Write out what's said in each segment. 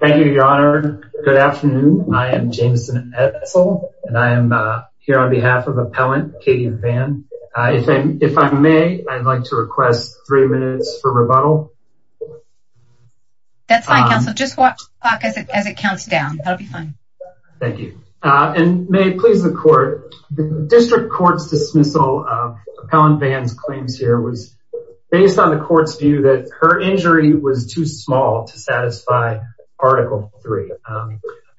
Thank you, Your Honor. Good afternoon. I am Jameson Edsel, and I am here on behalf of Appellant Katie Van. If I may, I'd like to request three minutes for rebuttal. That's fine, counsel. Just watch the clock as it counts down. That'll be fine. Thank you. And may it please the Court, the District Court's dismissal of Appellant Van's Article 3.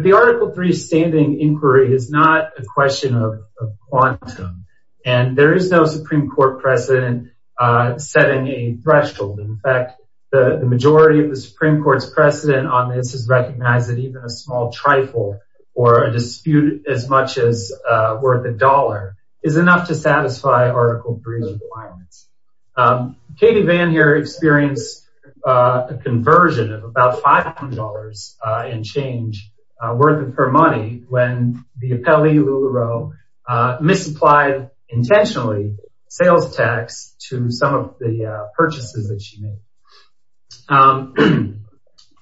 The Article 3 standing inquiry is not a question of quantum, and there is no Supreme Court precedent setting a threshold. In fact, the majority of the Supreme Court's precedent on this has recognized that even a small trifle or a dispute as much as worth a dollar is enough to satisfy Article 3's requirements. Katie Van here experienced a conversion of $500 and change worth of her money when the appellee, Lula Rowe, misapplied, intentionally, sales tax to some of the purchases that she made.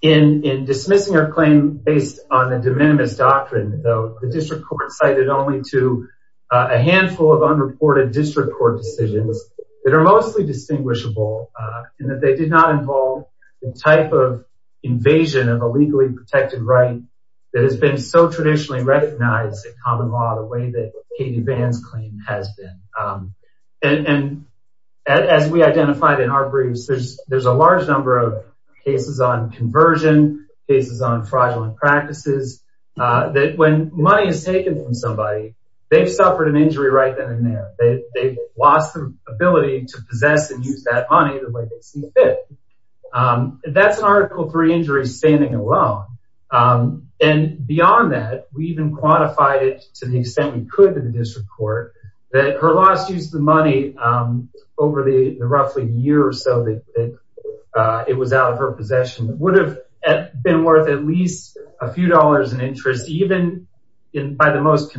In dismissing her claim based on the de minimis doctrine, though, the District Court cited only to a handful of unreported District Court decisions that are mostly distinguishable and that they did not involve the type of invasion of a legally protected right that has been so traditionally recognized in common law the way that Katie Van's claim has been. And as we identified in our briefs, there's a large number of cases on conversion, cases on fraudulent practices, that when money is taken from somebody, they've suffered an injury right then and there. They've lost the ability to possess and use that money the way they see fit. That's an Article 3 injury standing alone. And beyond that, we even quantified it to the extent we could to the District Court, that her loss to use the money over the roughly year or so that it was out of her possession would have been worth at least a few dollars in interest, even by the most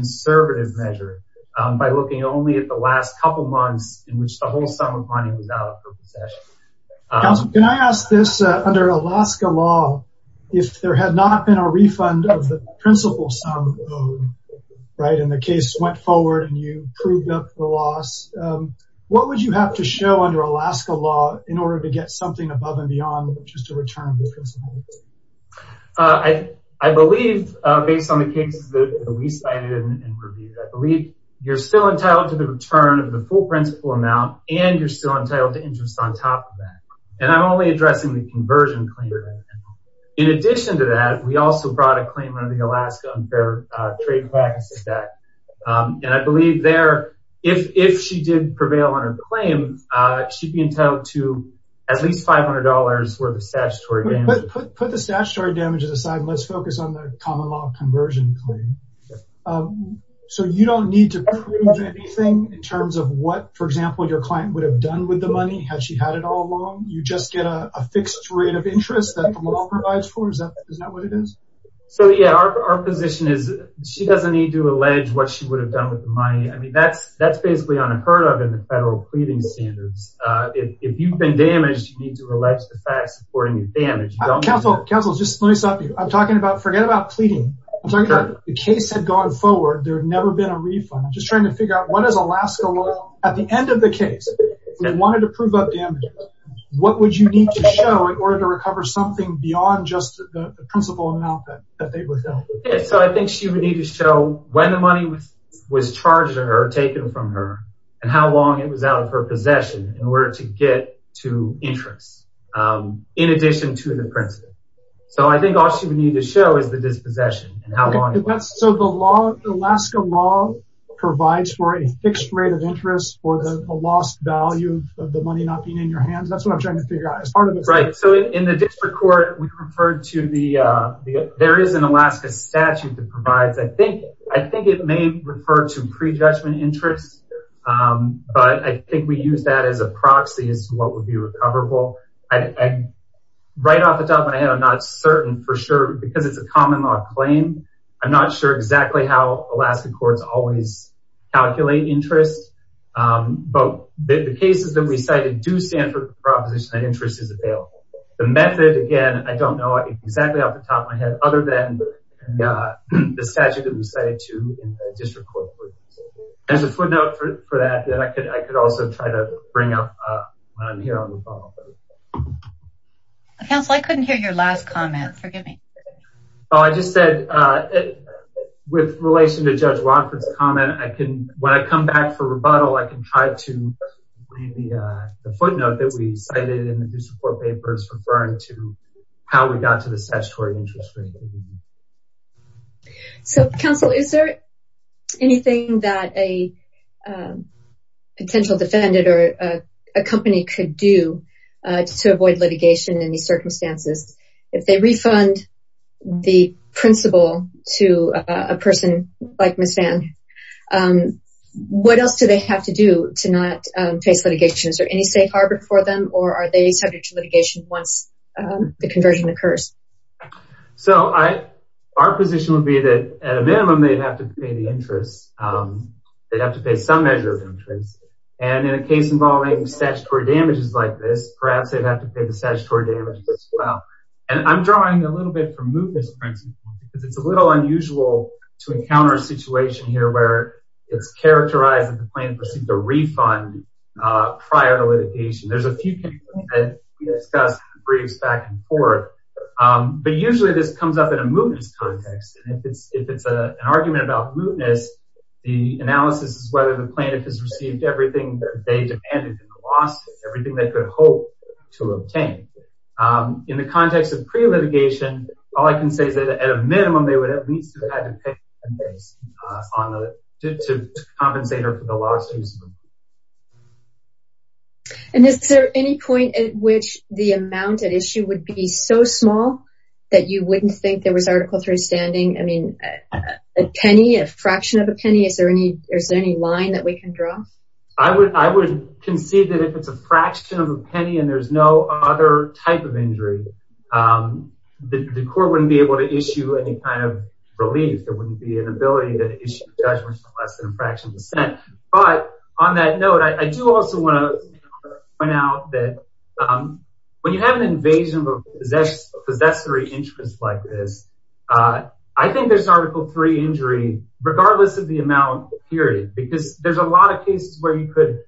in which the whole sum of money was out of her possession. Counsel, can I ask this? Under Alaska law, if there had not been a refund of the principal sum owed, right, and the case went forward and you proved up the loss, what would you have to show under Alaska law in order to get something above and beyond just a return of the principal? I believe, based on the cases that we cited and reviewed, I believe you're still entitled to the return of the full principal amount and you're still entitled to interest on top of that. And I'm only addressing the conversion claim. In addition to that, we also brought a claim under the Alaska Unfair Trade Practices Act. And I believe there, if she did prevail on her claim, she'd be entitled to at least $500 worth of statutory damages. Put the statutory damages aside and let's focus on the common law conversion claim. So you don't need to prove anything in terms of what, for example, your client would have done with the money had she had it all along? You just get a fixed rate of interest that the law provides for? Is that what it is? So yeah, our position is she doesn't need to allege what she would have done with the money. I mean, that's basically unheard of in the federal pleading standards. If you've been damaged, you need to allege the facts supporting the damage. Counsel, just let me stop you. I'm talking about, forget about pleading. The case had gone forward. There had never been a refund. I'm just trying to figure out, what does Alaska law, at the end of the case, if they wanted to prove up damages, what would you need to show in order to recover something beyond just the principal amount that they would have? Yeah, so I think she would need to show when the money was charged to her, taken from her, and how long it was out of her possession in order to get to interest in addition to the principal. So I think all she would need to show is the dispossession and how long it was. So the Alaska law provides for a fixed rate of interest for the lost value of the money not being in your hands? That's what I'm trying to figure out as part of this. Right. So in the district court, we referred to the, there is an Alaska statute that provides, I think it may refer to pre-judgment interest. But I think we use that as a proxy as to what would be recoverable. Right off the top of my head, I'm not certain for sure, because it's a common law claim. I'm not sure exactly how Alaska courts always calculate interest. But the cases that we cited do stand for the proposition that interest is available. The method, again, I don't know exactly off the top of my head, other than the statute that we cited to in the district court. There's a footnote for that, that I could also try to bring up when I'm here on the phone. Counsel, I couldn't hear your last comment. Forgive me. Oh, I just said, with relation to Judge Rockford's comment, I can, when I come back for rebuttal, I can try to bring the footnote that we cited in the district court papers referring to how we got to the statutory interest rate. So, counsel, is there anything that a potential defendant or a company could do to avoid litigation in these circumstances? If they refund the principal to a person like Ms. Van, what else do they have to do to not face litigation? Is there any safe harbor for them, or are they subject to litigation once the conversion occurs? So, our position would be that, at a minimum, they'd have to pay the interest. They'd have to pay some measure of interest. And in a case involving statutory damages like this, perhaps they'd have to pay the statutory damages as well. And I'm drawing a little bit from Mootniff's principle, because it's a little unusual to encounter a situation here where it's characterized that the plaintiff received a refund prior to litigation. There's a few cases that we discussed in briefs back and forth, but usually this comes up in a mootness context. And if it's an argument about mootness, the analysis is whether the plaintiff has received everything that they demanded, everything they could hope to obtain. In the context of pre-litigation, all I can say is that, at a minimum, they would at least have had to pay to compensate her for the lawsuits. And is there any point at which the amount at issue would be so small that you wouldn't think there was Article III standing? I mean, a penny, a fraction of a penny? Is there any line that we can draw? I would concede that if it's a fraction of a penny and there's no other type of injury, the court wouldn't be able to issue any kind of relief. There wouldn't be an ability to issue judgments for less than a fraction of a cent. But on that note, I do also want to point out that when you have an invasion of a possessory interest like this, I think there's Article III injury, regardless of the amount, period. Because there's a lot of cases where you could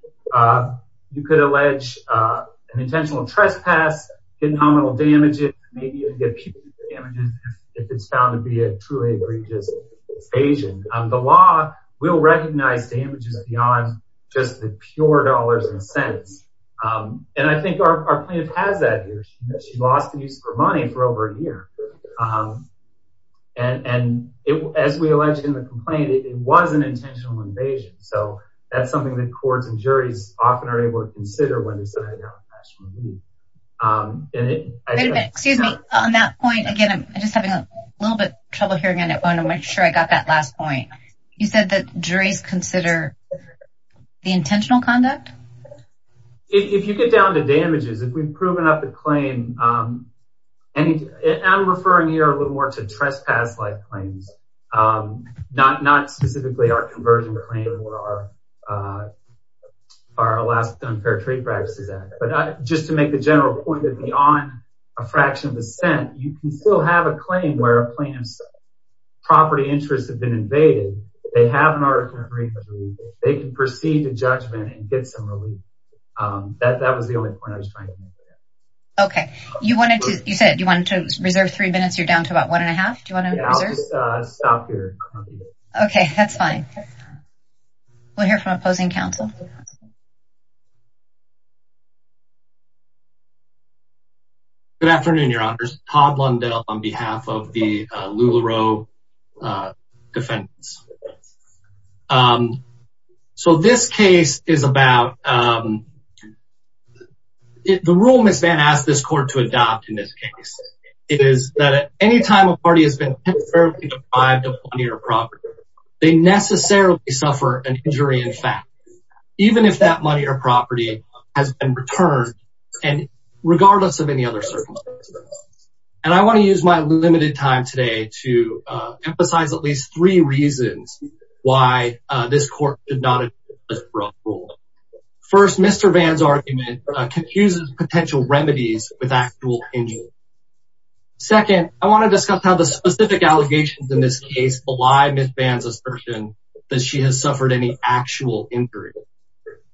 allege an intentional trespass, get nominal damages, maybe even get punitive damages if it's found to be a truly egregious invasion. The law will recognize damages beyond just the pure dollars and cents. And I think our plaintiff has that here. She lost the use of her money for over a year. And as we allege in the complaint, it was an intentional invasion. So that's something that courts and juries often are able to consider when deciding on a national relief. Wait a minute, excuse me. On that point, again, I'm just having a little bit of trouble hearing on it. I'm not sure I got that last point. You said that juries consider the intentional conduct? If you get down to damages, if we've proven up the claim, I'm referring here a little more to trespass-like claims, not specifically our conversion claim or our Alaskan Unfair Trade Practices Act. But just to make the general point that beyond a fraction of a cent, you can still have a claim where a plaintiff's property interests have been removed. That was the only point I was trying to make there. Okay. You said you wanted to reserve three minutes. You're down to about one and a half. Do you want to reserve? Yeah, I'll just stop here. Okay, that's fine. We'll hear from opposing counsel. Good afternoon, Your Honors. Todd Lundell on behalf of the LuLaRoe defendants. So this case is about, the rule Ms. Vann asked this court to adopt in this case is that any time a party has been temporarily deprived of money or property, they necessarily suffer an injury in fact, even if that money or property has been returned, regardless of any other circumstances. And I want to use my limited time today to emphasize at least three reasons why this court did not adopt this rule. First, Mr. Vann's argument confuses potential remedies with actual injury. Second, I want to discuss how the specific allegations in this case belie Ms. Vann's assertion that she has suffered any actual injury.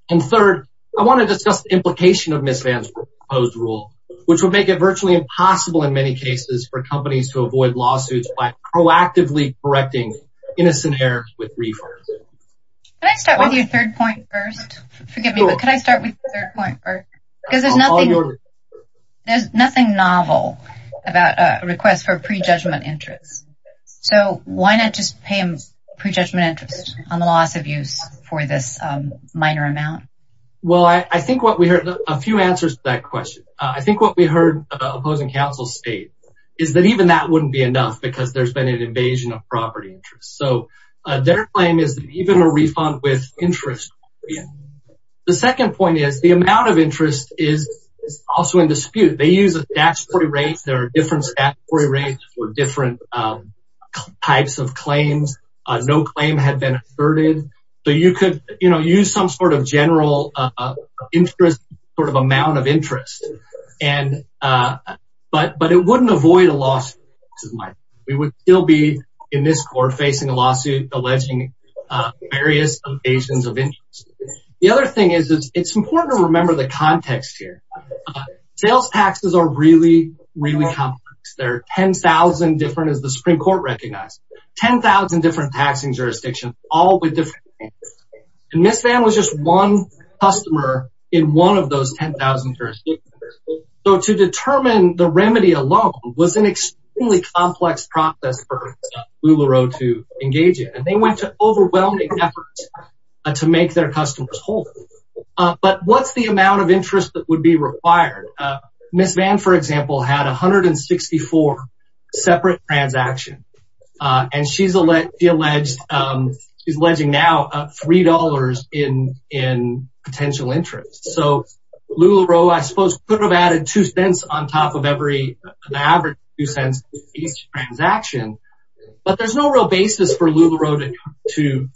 And third, I want to discuss the implication of Ms. Vann's assertion that it is possible in many cases for companies to avoid lawsuits by proactively correcting innocent errors with refunds. Can I start with your third point first? Forgive me, but can I start with the third point first? Because there's nothing novel about a request for pre-judgment interest. So why not just pay them pre-judgment interest on the loss of use for this minor amount? Well, I think what we heard, a few answers to that state, is that even that wouldn't be enough because there's been an invasion of property interest. So their claim is even a refund with interest. The second point is the amount of interest is also in dispute. They use a statutory rate. There are different statutory rates for different types of claims. No claim had been asserted. So you could, you know, use some sort of general interest, sort of amount of interest. But it wouldn't avoid a lawsuit. We would still be, in this court, facing a lawsuit alleging various evasions of interest. The other thing is it's important to remember the context here. Sales taxes are really, really complex. There are 10,000 different, as the Supreme Court recognized, 10,000 different taxing jurisdictions, all with different interests. And Ms. Vann was just one customer in one of those 10,000 jurisdictions. So to determine the remedy alone was an extremely complex process for LuLaRoe to engage in. And they went to overwhelming efforts to make their customers whole. But what's the amount of interest that would be required? Ms. Vann, for example, had 164 separate transactions. And she's alleged, she's alleging now $3 in potential interest. So LuLaRoe, I suppose, could have added two cents on top of every, the average two cents of each transaction. But there's no real basis for LuLaRoe to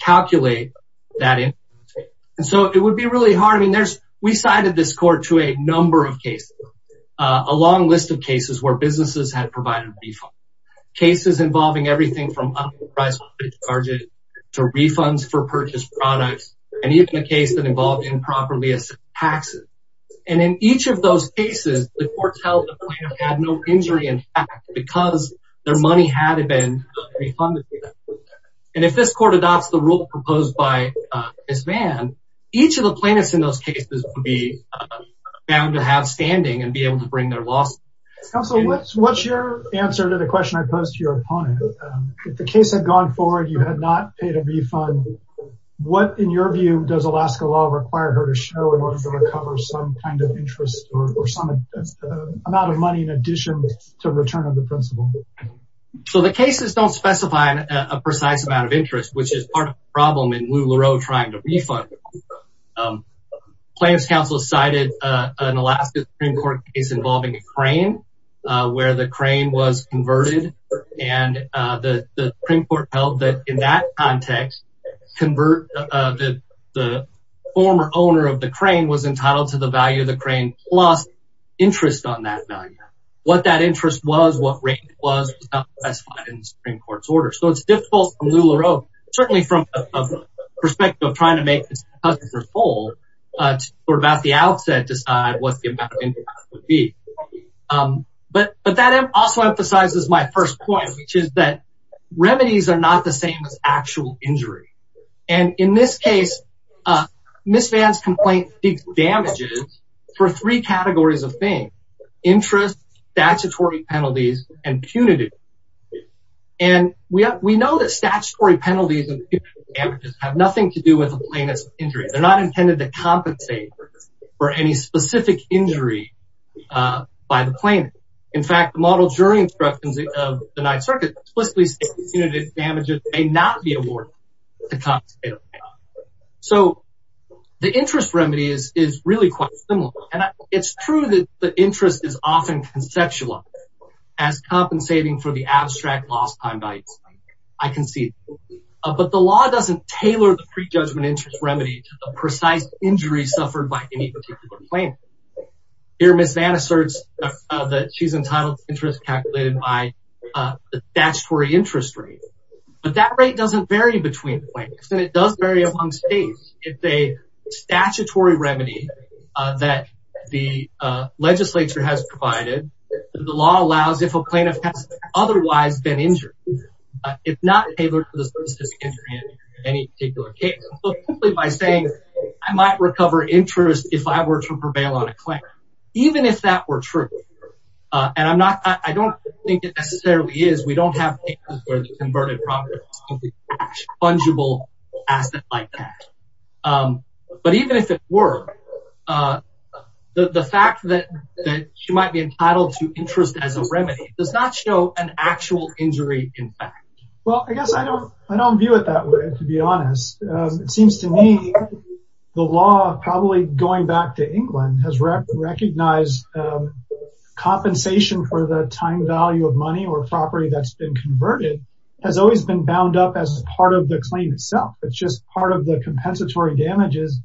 calculate that interest rate. And so it would be really hard. I mean, there's, we cited this court to a number of cases, a long list of cases where businesses had provided refunds. Cases involving everything from underpriced credit cards to refunds for purchased products, and even a case that involved improperly assessed taxes. And in each of those cases, the courts held the plaintiff had no injury, in fact, because their money had been refunded. And if this court adopts the rule and be able to bring their lawsuit. Counselor, what's your answer to the question I posed to your opponent? If the case had gone forward, you had not paid a refund. What, in your view, does Alaska law require her to show in order to cover some kind of interest or some amount of money in addition to return of the principal? So the cases don't specify a precise amount of interest, which is part of the problem in LuLaRoe trying to refund. The plaintiff's counsel cited an Alaska Supreme Court case involving a crane where the crane was converted. And the Supreme Court held that in that context, the former owner of the crane was entitled to the value of the crane plus interest on that value. What that interest was, what rate it was, was not specified in the Supreme Court's order. So it's difficult for LuLaRoe, certainly from the perspective of trying to make this case unfold, sort of at the outset decide what the amount of interest would be. But that also emphasizes my first point, which is that remedies are not the same as actual injury. And in this case, Ms. Vann's complaint seeks damages for three categories of things, interest, statutory penalties, and punitive. And we know that statutory penalties and punitive damages have nothing to do with a plaintiff's injury. They're not intended to compensate for any specific injury by the plaintiff. In fact, the model during instructions of the Ninth Circuit explicitly stated punitive damages may not be awarded to compensate a plaintiff. So the interest remedy is really quite similar. And it's true that the interest is often conceptualized as compensating for the abstract lost time value. I can see that. But the law doesn't tailor the pre-judgment interest remedy to the precise injury suffered by any particular plaintiff. Here Ms. Vann asserts that she's entitled to interest calculated by the statutory interest rate. But that rate doesn't vary between plaintiffs. And it does vary among states. It's a statutory remedy that the legislature has provided. The law allows if a plaintiff has otherwise been injured, if not tailored to the specific injury of any particular case. So simply by saying, I might recover interest if I were to prevail on a claim, even if that were true. And I don't think it necessarily is. We don't have cases where the converted property is a fungible asset like that. But even if it were, the fact that she might be entitled to interest as a remedy does not show an actual injury in fact. Well, I guess I don't view it that way, to be honest. It seems to me the law, probably going back to England, has recognized compensation for the time value of money or property that's been converted has always been bound up as part of the claim itself. It's just part of the compensatory damages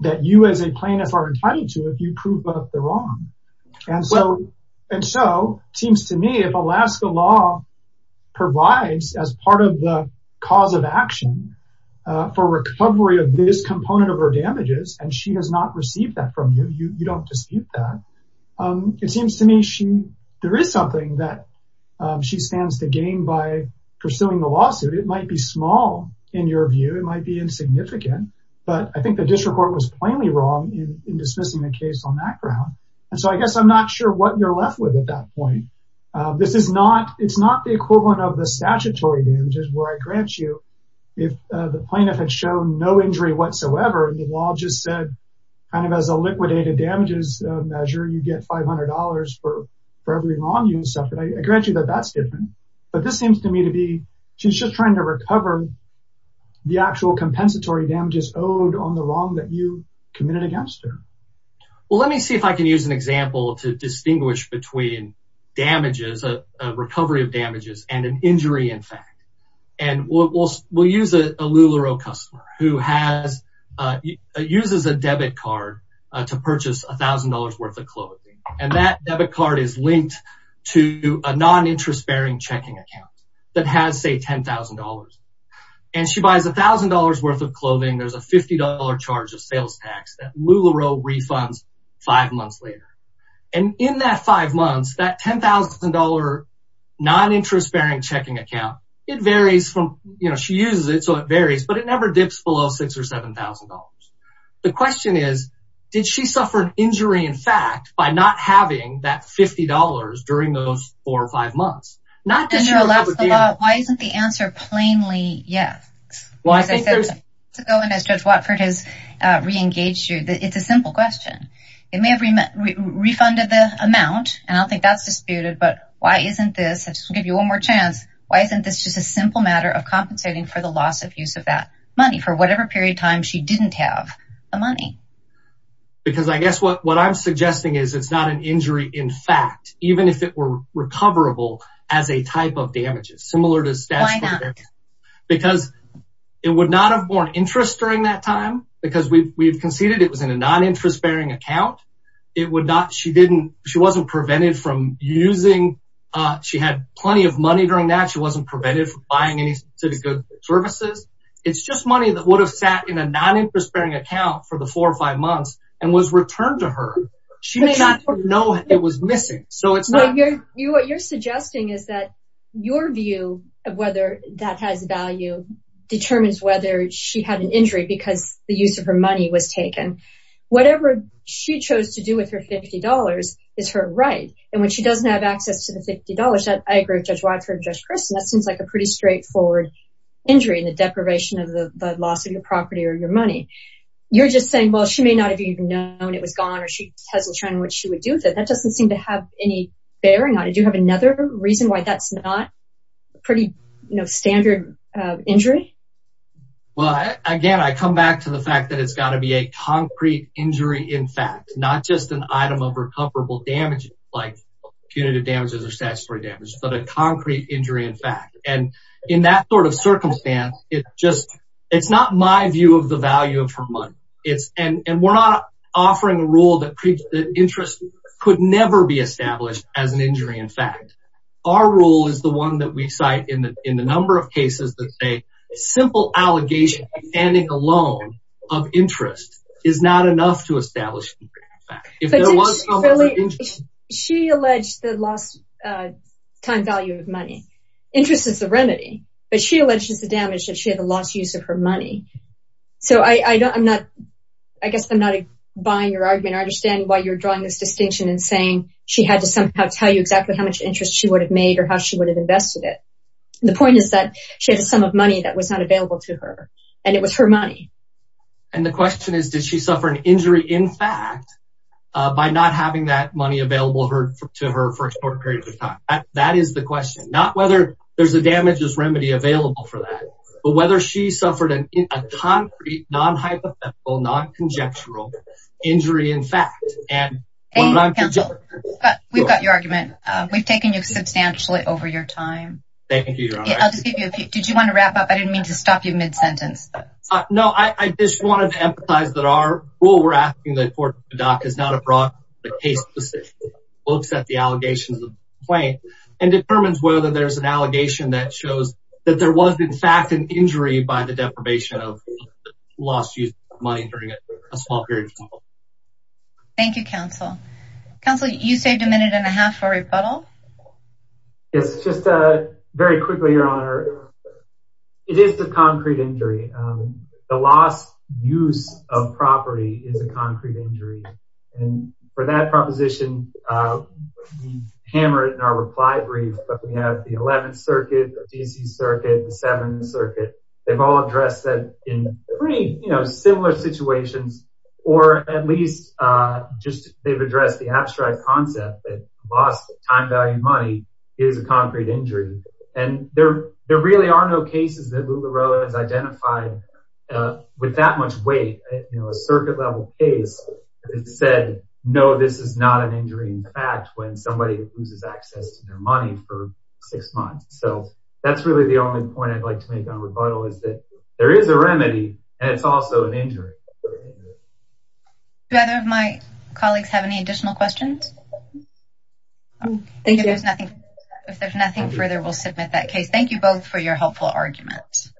that you as a plaintiff are entitled to if you prove that they're wrong. And so it seems to me if Alaska law provides as part of the cause of action for recovery of this component of her damages, and she has not received that from you, you don't dispute that. It seems to me there is something that she stands to gain by pursuing the lawsuit. It might be small in your view, it might be insignificant. But I think the district court was plainly wrong in dismissing the case on that ground. And so I guess I'm not sure what you're left with at that point. It's not the equivalent of the statutory damages where I grant if the plaintiff had shown no injury whatsoever, and the law just said, kind of as a liquidated damages measure, you get $500 for every wrong you suffered. I grant you that that's different. But this seems to me to be she's just trying to recover the actual compensatory damages owed on the wrong that you committed against her. Well, let me see if I can use an example to distinguish between damages, a recovery of damages and an injury in fact. And we'll use a LuLaRoe customer who uses a debit card to purchase $1,000 worth of clothing. And that debit card is linked to a non-interest bearing checking account that has say $10,000. And she buys $1,000 worth of clothing, there's a $50 charge of sales tax that LuLaRoe refunds five months later. And in that five months, that $10,000 non-interest bearing checking account, it varies from, you know, she uses it so it varies, but it never dips below $6,000 or $7,000. The question is, did she suffer an injury in fact by not having that $50 during those four or five months? Not that you're left with the answer. Why isn't the answer plainly yes? Well, I think there's to go in as Judge Watford has re-engaged you that it's a simple question. It may have refunded the amount and I don't think that's disputed, but why isn't this, I'll just give you one more chance, why isn't this just a simple matter of compensating for the loss of use of that money for whatever period of time she didn't have the money? Because I guess what I'm suggesting is it's not an injury in fact, even if it were recoverable as a type of damages, similar to statutory damages. Why not? Because it would not have borne interest during that time because we've conceded it was in a non-interest bearing account. It would not, she didn't, she wasn't prevented from using, she had plenty of money during that. She wasn't prevented from buying any specific services. It's just money that would have sat in a non-interest bearing account for the four or five months and was returned to her. She did not know it was missing. So it's not. What you're suggesting is that your view of whether that has value determines whether she had an injury because the use of her money was taken. Whatever she chose to do with her $50 is her right. And when she doesn't have access to the $50, I agree with Judge Watford and Judge Christin, that seems like a pretty straightforward injury in the deprivation of the loss of your property or your money. You're just saying, well, she may not have even known it was gone or she hasn't shown what she would do with it. That doesn't seem to have any bearing on it. Do you have another reason why that's not a pretty standard injury? Well, again, I come back to the fact that it's got to be a concrete injury in fact, not just an item of recoverable damage like punitive damages or statutory damage, but a concrete injury in fact. And in that sort of circumstance, it's just, it's not my view of the value of her money. And we're not offering a rule that interest could never be established as an injury in fact. Our rule is the one that we cite in the number of cases that say simple allegation of standing alone of interest is not enough to establish. She alleged the lost time value of money. Interest is the remedy, but she alleges the damage that she had the lost use of her money. So I guess I'm not buying your argument. I understand why you're drawing this distinction and saying she had to somehow tell you exactly how much interest she would have made or how she would have invested it. The point is that she has some of money that was not available to her and it was her money. And the question is, did she suffer an injury in fact by not having that money available to her for a short period of time? That is the question, not whether there's a damages remedy available for that, but whether she suffered a concrete, non-hypothetical, non-conjectural injury in fact. We've got your argument. We've taken you substantially over your time. Did you want to wrap up? I didn't mean to stop you mid-sentence. No, I just wanted to emphasize that our rule we're asking the court to dock is not a broad but case specific. It looks at the allegations of the complaint and determines whether there's an allegation that shows that there was in fact an injury by the deprivation of lost use of money during a small period of time. Thank you, counsel. Counsel, you saved a minute and a half for rebuttal. Yes, just very quickly, your honor. It is the concrete injury. The lost use of property is a concrete injury. And for that proposition, we hammered in our reply brief, but we have the 11th circuit, the DC circuit, the 7th circuit. They've all addressed that in three similar situations, or at least just they've addressed the abstract concept that lost time value money is a concrete injury. And there really are no cases that Lula Roa has identified with that much weight. A circuit level case that said, no, this is not an injury. In fact, when somebody loses access to their money for six months. So that's really the only point I'd like to make on rebuttal is that there is a remedy and it's also an injury. Do either of my colleagues have any additional questions? Thank you. If there's nothing further, we'll submit that case. Thank you both for your helpful arguments.